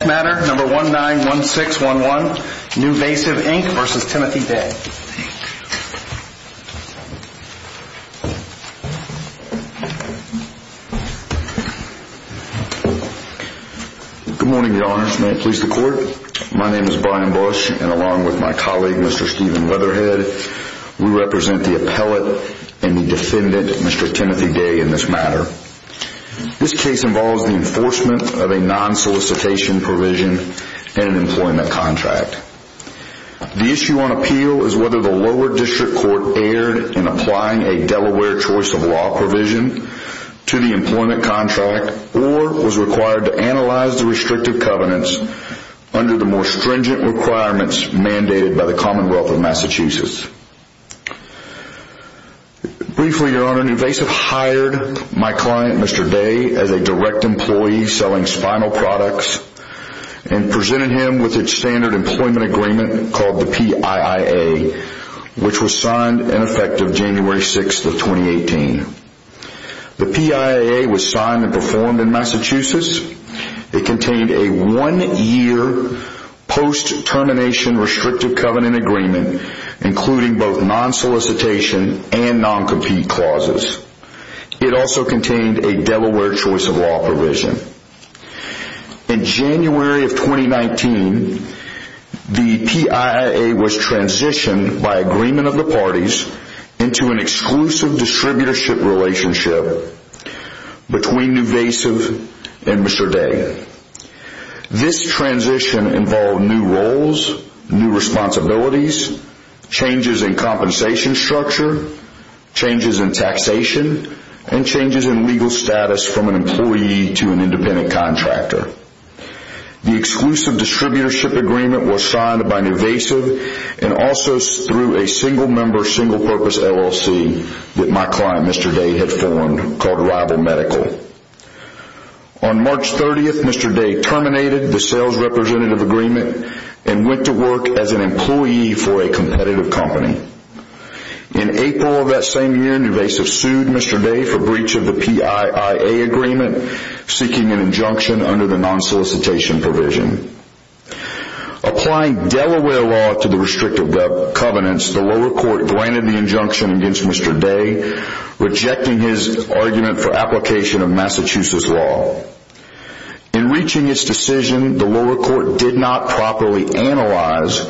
Good morning, Your Honors. May it please the Court, my name is Brian Bush and along with my colleague, Mr. Steven Weatherhead, we represent the appellate and the defendant, Mr. Timothy Day, in this matter. This case involves the enforcement of a non-solicitation provision in an employment contract. The issue on appeal is whether the lower district court erred in applying a Delaware choice of law provision to the employment contract or was required to analyze the restrictive covenants under the more stringent requirements mandated by the Commonwealth of Massachusetts. Briefly, Your Honor, NuVasive hired my client, Mr. Day, as a direct employee selling spinal products and presented him with its standard employment agreement called the PIIA, which was signed and effective January 6th of 2018. The PIIA was signed and performed in Massachusetts. It contained a one-year post-termination restrictive covenant agreement, including both non-solicitation and non-compete clauses. It also contained a Delaware choice of law provision. In January of 2019, the PIIA was transitioned by agreement of the parties into an exclusive distributorship relationship between NuVasive and Mr. Day. This transition involved new roles, new responsibilities, changes in compensation structure, changes in taxation, and changes in legal status from an employee to an independent contractor. The exclusive distributorship agreement was signed by NuVasive and also through a single member single purpose LLC that my client, Mr. Day, had formed called Rival Medical. On March 30th, Mr. Day terminated the sales representative agreement and went to work as an employee for a competitive company. In April of that same year, NuVasive sued Mr. Day for breach of the PIIA agreement seeking an injunction under the non-solicitation provision. Applying Delaware law to the restrictive covenants, the lower court granted the injunction against Mr. Day, rejecting his argument for application of Massachusetts law. In reaching its decision, the lower court did not properly analyze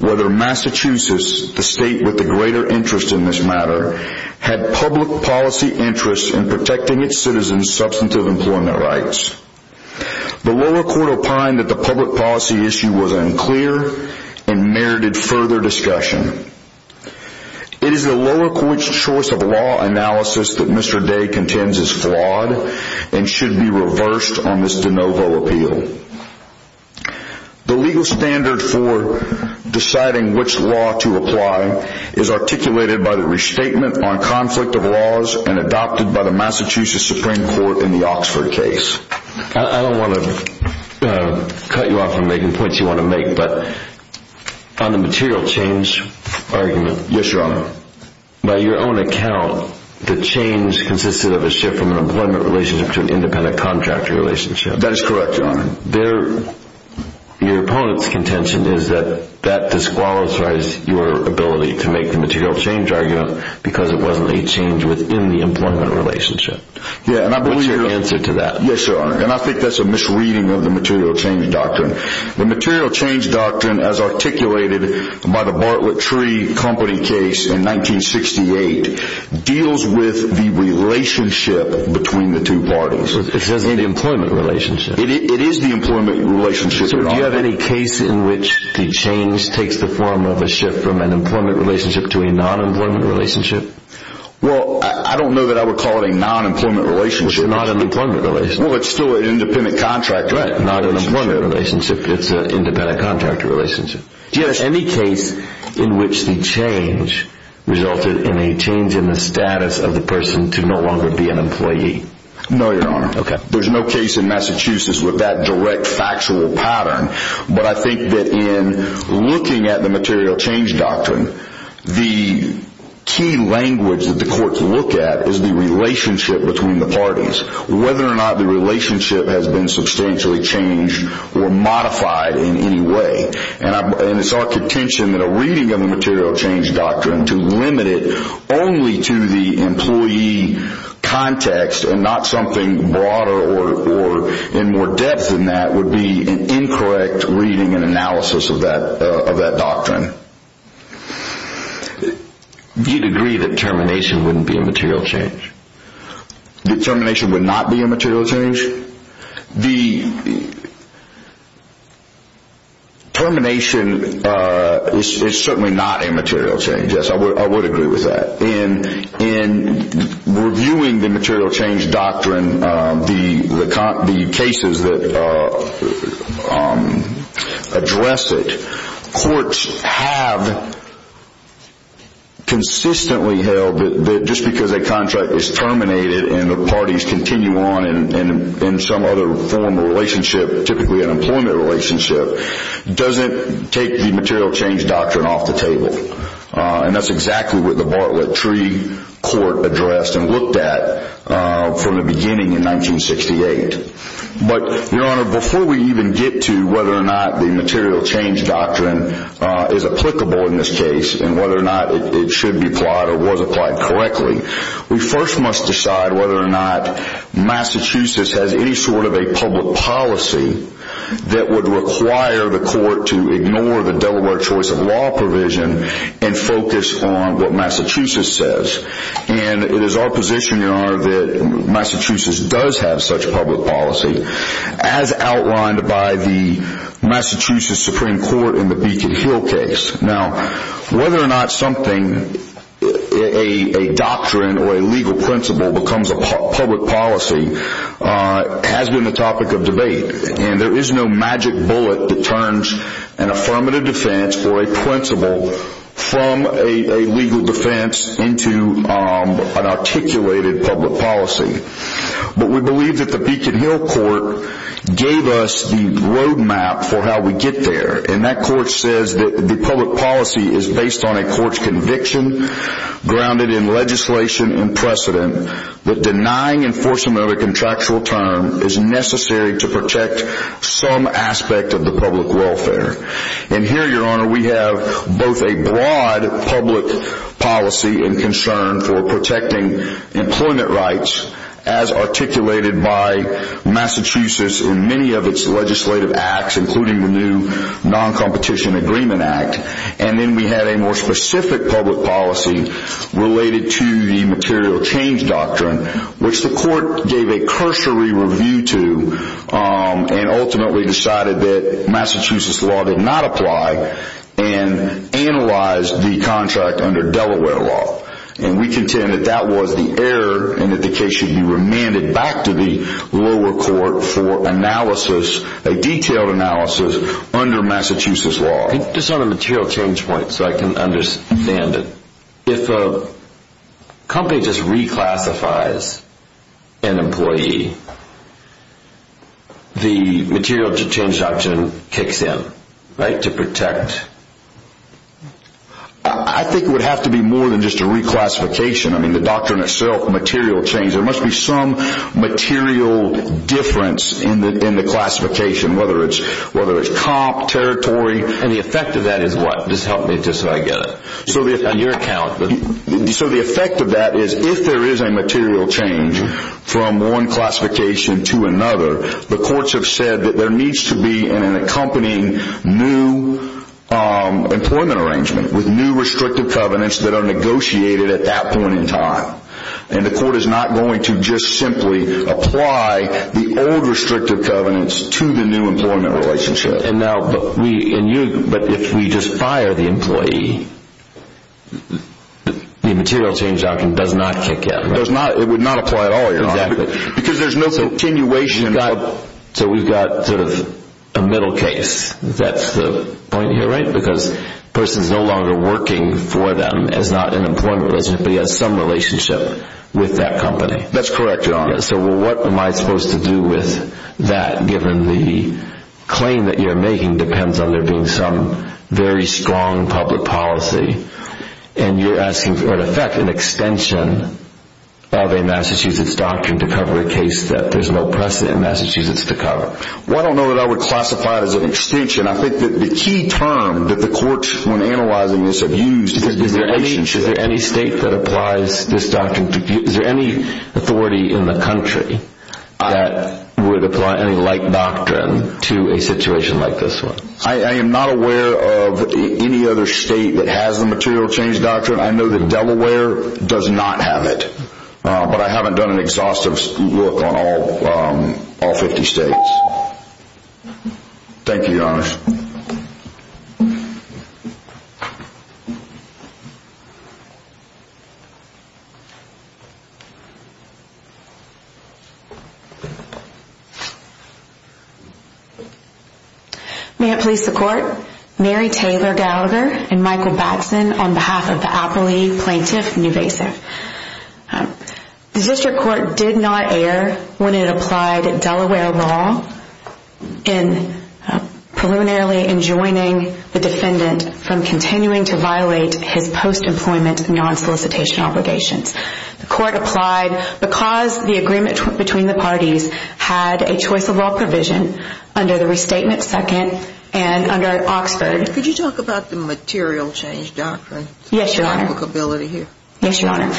whether Massachusetts, the state with the greater interest in this matter, had public policy interests in protecting its citizens' substantive employment rights. The lower court opined that the public policy issue was unclear and merited further discussion. It is the lower court's choice of law analysis that Mr. Day contends is flawed and should be reversed on this de novo appeal. The legal standard for deciding which law to apply is articulated by the restatement on conflict of laws and adopted by the Massachusetts Supreme Court in the Oxford case. I don't want to cut you off from making points you want to make, but on the material change argument, by your own account, the change consisted of a shift from an employment relationship to an independent contractor relationship. That is correct, Your Honor. Your opponent's contention is that that disqualifies your ability to make the material change argument because it wasn't a change within the employment relationship. What's your answer to that? Yes, Your Honor, and I think that's a misreading of the material change doctrine. The material change doctrine, as articulated by the Bartlett Tree Company case in 1968, deals with the relationship between the two parties. It doesn't mean the employment relationship. It is the employment relationship. Do you have any case in which the change takes the form of a shift from an employment relationship to a non-employment relationship? Well, I don't know that I would call it a non-employment relationship. Well, it's not an employment relationship. Well, it's still an independent contractor relationship. Not an employment relationship. It's an independent contractor relationship. Do you have any case in which the change resulted in a change in the status of the person to no longer be an employee? No, Your Honor. Okay. There's no case in Massachusetts with that direct factual pattern, but I think that in looking at the material change doctrine, the key language that the courts look at is the relationship between the parties, whether or not the relationship has been substantially changed or modified in any way. And it's our contention that a reading of the material change doctrine to limit it only to the employee context and not something broader or in more depth than that would be an incorrect reading and analysis of that doctrine. You'd agree that termination wouldn't be a material change? That termination would not be a material change? The termination is certainly not a material change. Yes, I would agree with that. In reviewing the material change doctrine, the cases that address it, courts have consistently held that just because a contract is terminated and the parties continue on in some other form of relationship, typically an employment relationship, doesn't take the material change doctrine off the table. And that's exactly what the Bartlett Treaty Court addressed and looked at from the beginning in 1968. But, Your Honor, before we even get to whether or not the material change doctrine is applicable in this case and whether or not it should be applied or was applied correctly, we first must decide whether or not Massachusetts has any sort of a public policy that would require the court to ignore the Delaware choice of law provision and focus on what Massachusetts says. And it is our position, Your Honor, that Massachusetts does have such public policy as outlined by the Massachusetts Supreme Court in the Beacon Hill case. Now, whether or not something, a doctrine or a legal principle becomes a public policy has been the topic of debate. And there is no magic bullet that turns an affirmative defense or a principle from a legal defense into an articulated public policy. But we believe that the Beacon Hill court gave us the roadmap for how we get there. And that court says that the public policy is based on a court's conviction, grounded in legislation and precedent, that denying enforcement of a contractual term is necessary to protect some aspect of the public welfare. And here, Your Honor, we have both a broad public policy and concern for protecting employment rights, as articulated by Massachusetts in many of its legislative acts, including the new Non-Competition Agreement Act. And then we had a more specific public policy related to the material change doctrine, which the court gave a cursory review to and ultimately decided that Massachusetts law did not apply and analyzed the contract under Delaware law. And we contend that that was the error and that the case should be remanded back to the lower court for analysis, a detailed analysis, under Massachusetts law. Just on a material change point, so I can understand it, if a company just reclassifies an employee, the material change doctrine kicks in, right, to protect? I think it would have to be more than just a reclassification. I mean, the doctrine itself, material change, there must be some material difference in the classification, whether it's comp, territory. And the effect of that is what? Just help me, just so I get it. On your account. So the effect of that is if there is a material change from one classification to another, the courts have said that there needs to be an accompanying new employment arrangement with new restrictive covenants that are negotiated at that point in time. And the court is not going to just simply apply the old restrictive covenants to the new employment relationship. But if we just fire the employee, the material change doctrine does not kick in, right? It would not apply at all, Your Honor. Exactly. Because there's no continuation. So we've got sort of a middle case. That's the point here, right? Because the person is no longer working for them as not an employment resident, but he has some relationship with that company. That's correct, Your Honor. So what am I supposed to do with that, given the claim that you're making depends on there being some very strong public policy. And you're asking for, in effect, an extension of a Massachusetts doctrine to cover a case that there's no precedent in Massachusetts to cover. Well, I don't know that I would classify it as an extension. I think that the key term that the courts, when analyzing this, have used is relationship. Is there any state that applies this doctrine? Is there any authority in the country that would apply any like doctrine to a situation like this one? I am not aware of any other state that has the material change doctrine. I know that Delaware does not have it. But I haven't done an exhaustive look on all 50 states. Thank you, Your Honor. May it please the Court. Mary Taylor Gallagher and Michael Batson on behalf of the Apley Plaintiff and Evasive. The district court did not err when it applied Delaware law in preliminarily enjoining the defendant from continuing to violate his post-employment non-solicitation obligations. The court applied because the agreement between the parties had a choice of law provision under the Restatement Second and under Oxford. Could you talk about the material change doctrine? Yes, Your Honor. Publicability here. Yes, Your Honor.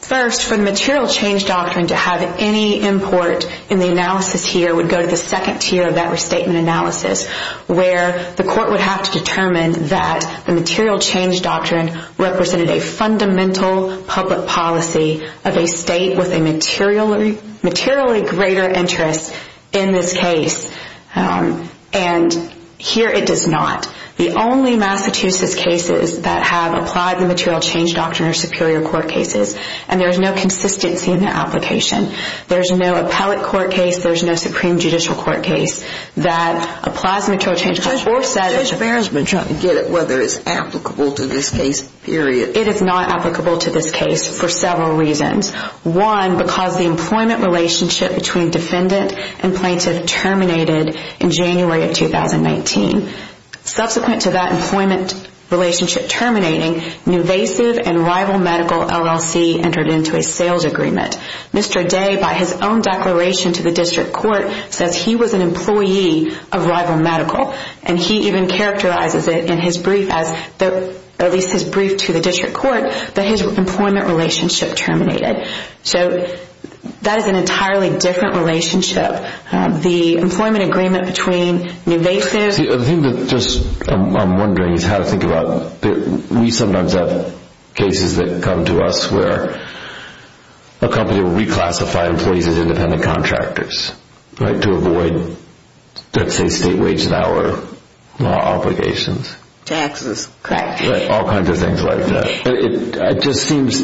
First, for the material change doctrine to have any import in the analysis here would go to the second tier of that restatement analysis where the court would have to determine that the material change doctrine represented a fundamental public policy of a state with a materially greater interest in this case. And here it does not. The only Massachusetts cases that have applied the material change doctrine are superior court cases, and there is no consistency in their application. There is no appellate court case. There is no supreme judicial court case that applies the material change doctrine. Judge Behr has been trying to get at whether it is applicable to this case, period. It is not applicable to this case for several reasons. One, because the employment relationship between defendant and plaintiff terminated in January of 2019. Subsequent to that employment relationship terminating, an invasive and rival medical LLC entered into a sales agreement. Mr. Day, by his own declaration to the district court, says he was an employee of rival medical, and he even characterizes it in his brief as, at least his brief to the district court, that his employment relationship terminated. So that is an entirely different relationship. The employment agreement between invasives... The thing that I am wondering is how to think about... We sometimes have cases that come to us where a company will reclassify employees as independent contractors, right, to avoid, let's say, state wage and hour law obligations. Taxes. Correct. All kinds of things like that. It just seems,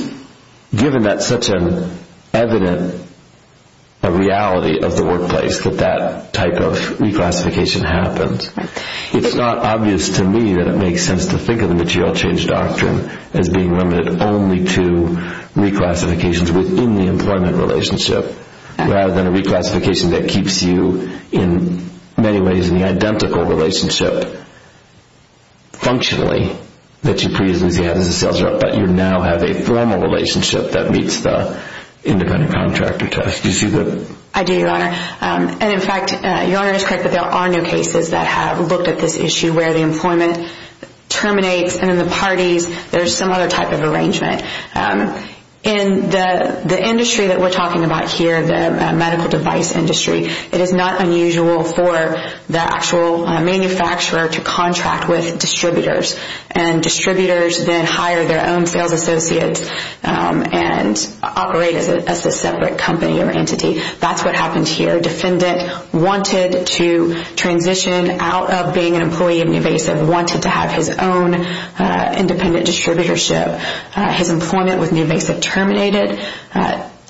given that such an evident reality of the workplace that that type of reclassification happens, it is not obvious to me that it makes sense to think of the material change doctrine as being limited only to reclassifications within the employment relationship, rather than a reclassification that keeps you, in many ways, in the identical relationship, functionally, that you previously had as a sales rep, but you now have a formal relationship that meets the independent contractor test. Do you see that? I do, Your Honor. And, in fact, Your Honor is correct that there are no cases that have looked at this issue where the employment terminates, and in the parties there is some other type of arrangement. In the industry that we are talking about here, the medical device industry, it is not unusual for the actual manufacturer to contract with distributors, and distributors then hire their own sales associates and operate as a separate company or entity. That's what happened here. Defendant wanted to transition out of being an employee of Nuvasiv, wanted to have his own independent distributorship. His employment with Nuvasiv terminated.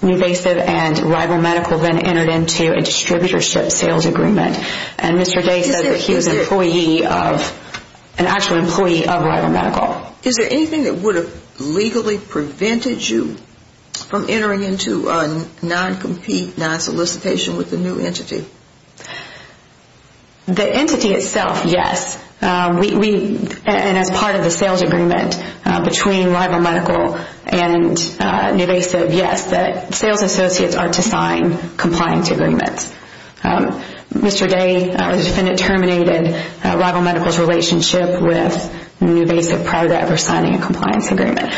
Nuvasiv and Rival Medical then entered into a distributorship sales agreement. And Mr. Day said that he was an employee of, an actual employee of Rival Medical. Is there anything that would have legally prevented you from entering into a non-compete, non-solicitation with the new entity? The entity itself, yes. And as part of the sales agreement between Rival Medical and Nuvasiv, yes, the sales associates are to sign compliance agreements. Mr. Day, the defendant terminated Rival Medical's relationship with Nuvasiv prior to ever signing a compliance agreement.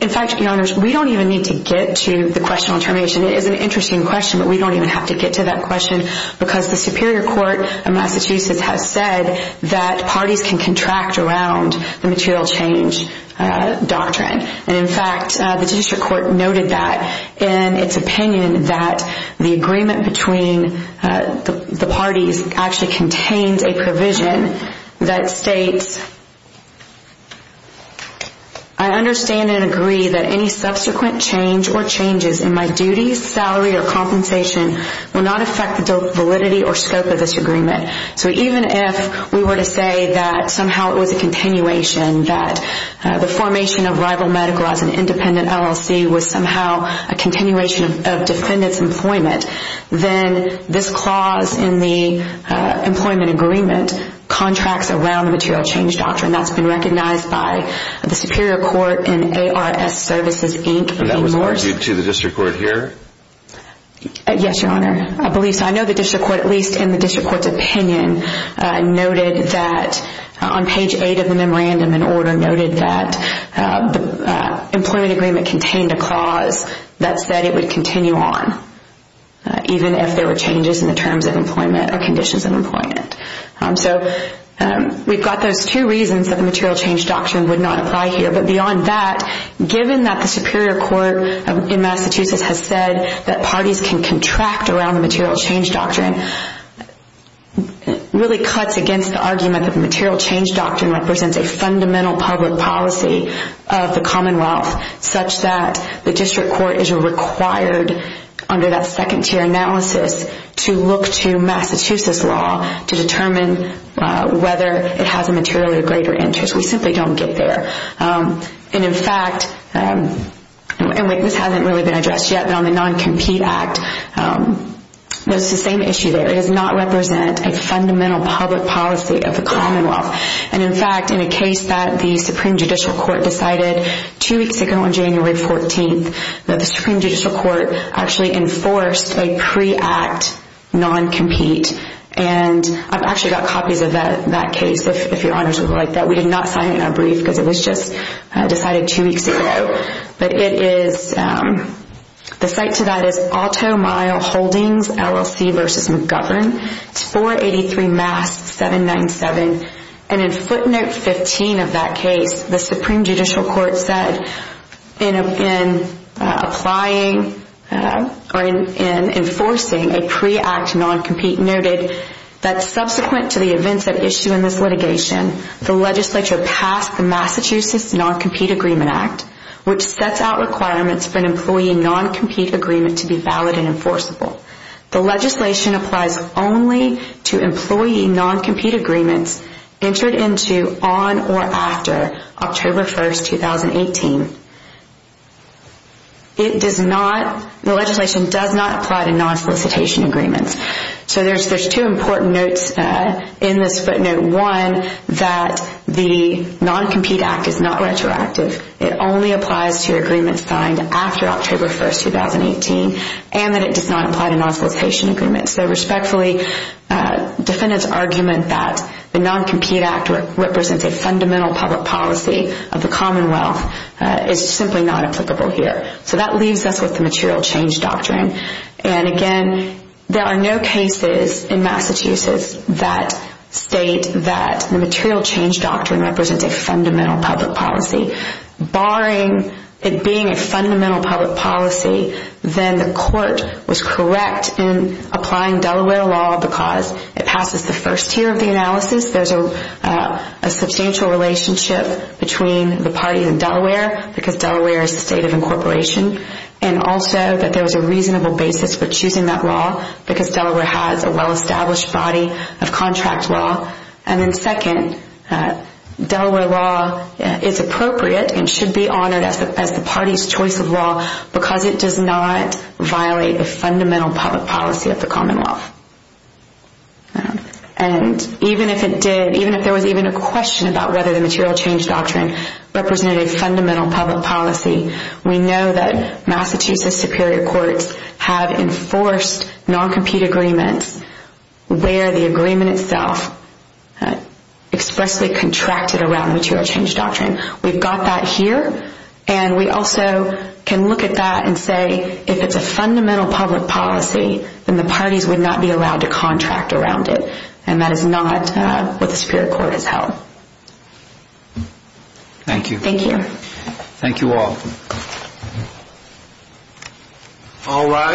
In fact, Your Honors, we don't even need to get to the question on termination. It is an interesting question, but we don't even have to get to that question because the Superior Court of Massachusetts has said that parties can contract around the material change doctrine. And in fact, the District Court noted that in its opinion that the agreement between the parties actually contains a provision that states, I understand and agree that any subsequent change or changes in my duties, salary, or scope of this agreement, so even if we were to say that somehow it was a continuation, that the formation of Rival Medical as an independent LLC was somehow a continuation of defendant's employment, then this clause in the employment agreement contracts around the material change doctrine. That's been recognized by the Superior Court in ARS Services, Inc. And that was argued to the District Court here? Yes, Your Honor. I believe so. I know the District Court, at least in the District Court's opinion, noted that on page 8 of the memorandum in order noted that the employment agreement contained a clause that said it would continue on even if there were changes in the terms of employment or conditions of employment. So we've got those two reasons that the material change doctrine would not apply here. But beyond that, given that the Superior Court in Massachusetts has said that parties can contract around the material change doctrine, it really cuts against the argument that the material change doctrine represents a fundamental public policy of the Commonwealth such that the District Court is required under that second tier analysis to look to Massachusetts law to determine whether it has a material or greater interest. We simply don't get there. And in fact, and this hasn't really been addressed yet, but on the non-compete act, it's the same issue there. It does not represent a fundamental public policy of the Commonwealth. And in fact, in a case that the Supreme Judicial Court decided two weeks ago on January 14th that the Supreme Judicial Court actually enforced a pre-act non-compete. And I've actually got copies of that case, if Your Honor would like that. We did not sign it in our brief because it was just decided two weeks ago. But it is, the site to that is Auto Mile Holdings LLC v. McGovern, 483 Mass 797. And in footnote 15 of that case, the Supreme Judicial Court said in applying or in enforcing a pre-act non-compete noted that subsequent to the events at issue in this litigation, the legislature passed the Massachusetts Non-Compete Agreement Act, which sets out requirements for an employee non-compete agreement to be valid and enforceable. The legislation applies only to employee non-compete agreements entered into on or after October 1st, 2018. It does not, the legislation does not apply to non-solicitation agreements. So there's two important notes in this footnote. One, that the Non-Compete Act is not retroactive. It only applies to agreements signed after October 1st, 2018. And that it does not apply to non-solicitation agreements. So respectfully, defendants' argument that the Non-Compete Act represents a fundamental public policy of the Commonwealth is simply not applicable here. So that leaves us with the material change doctrine. And again, there are no cases in Massachusetts that state that the material change doctrine represents a fundamental public policy. Barring it being a fundamental public policy, then the court was correct in applying Delaware law because it passes the first tier of the analysis. There's a substantial relationship between the parties in Delaware, because Delaware is the state of incorporation. And also that there was a reasonable basis for choosing that law because Delaware has a well-established body of contract law. And then second, Delaware law is appropriate and should be honored as the party's choice of law because it does not violate the fundamental public policy of the Commonwealth. And even if it did, even if there was even a question about whether the material change doctrine represented a fundamental public policy, we know that Massachusetts Superior Courts have enforced non-compete agreements where the agreement itself expressly contracted around the material change doctrine. We've got that here. And we also can look at that and say if it's a fundamental public policy, then the parties would not be allowed to contract around it. And that is not what the Superior Court has held. Thank you. Thank you. Thank you all.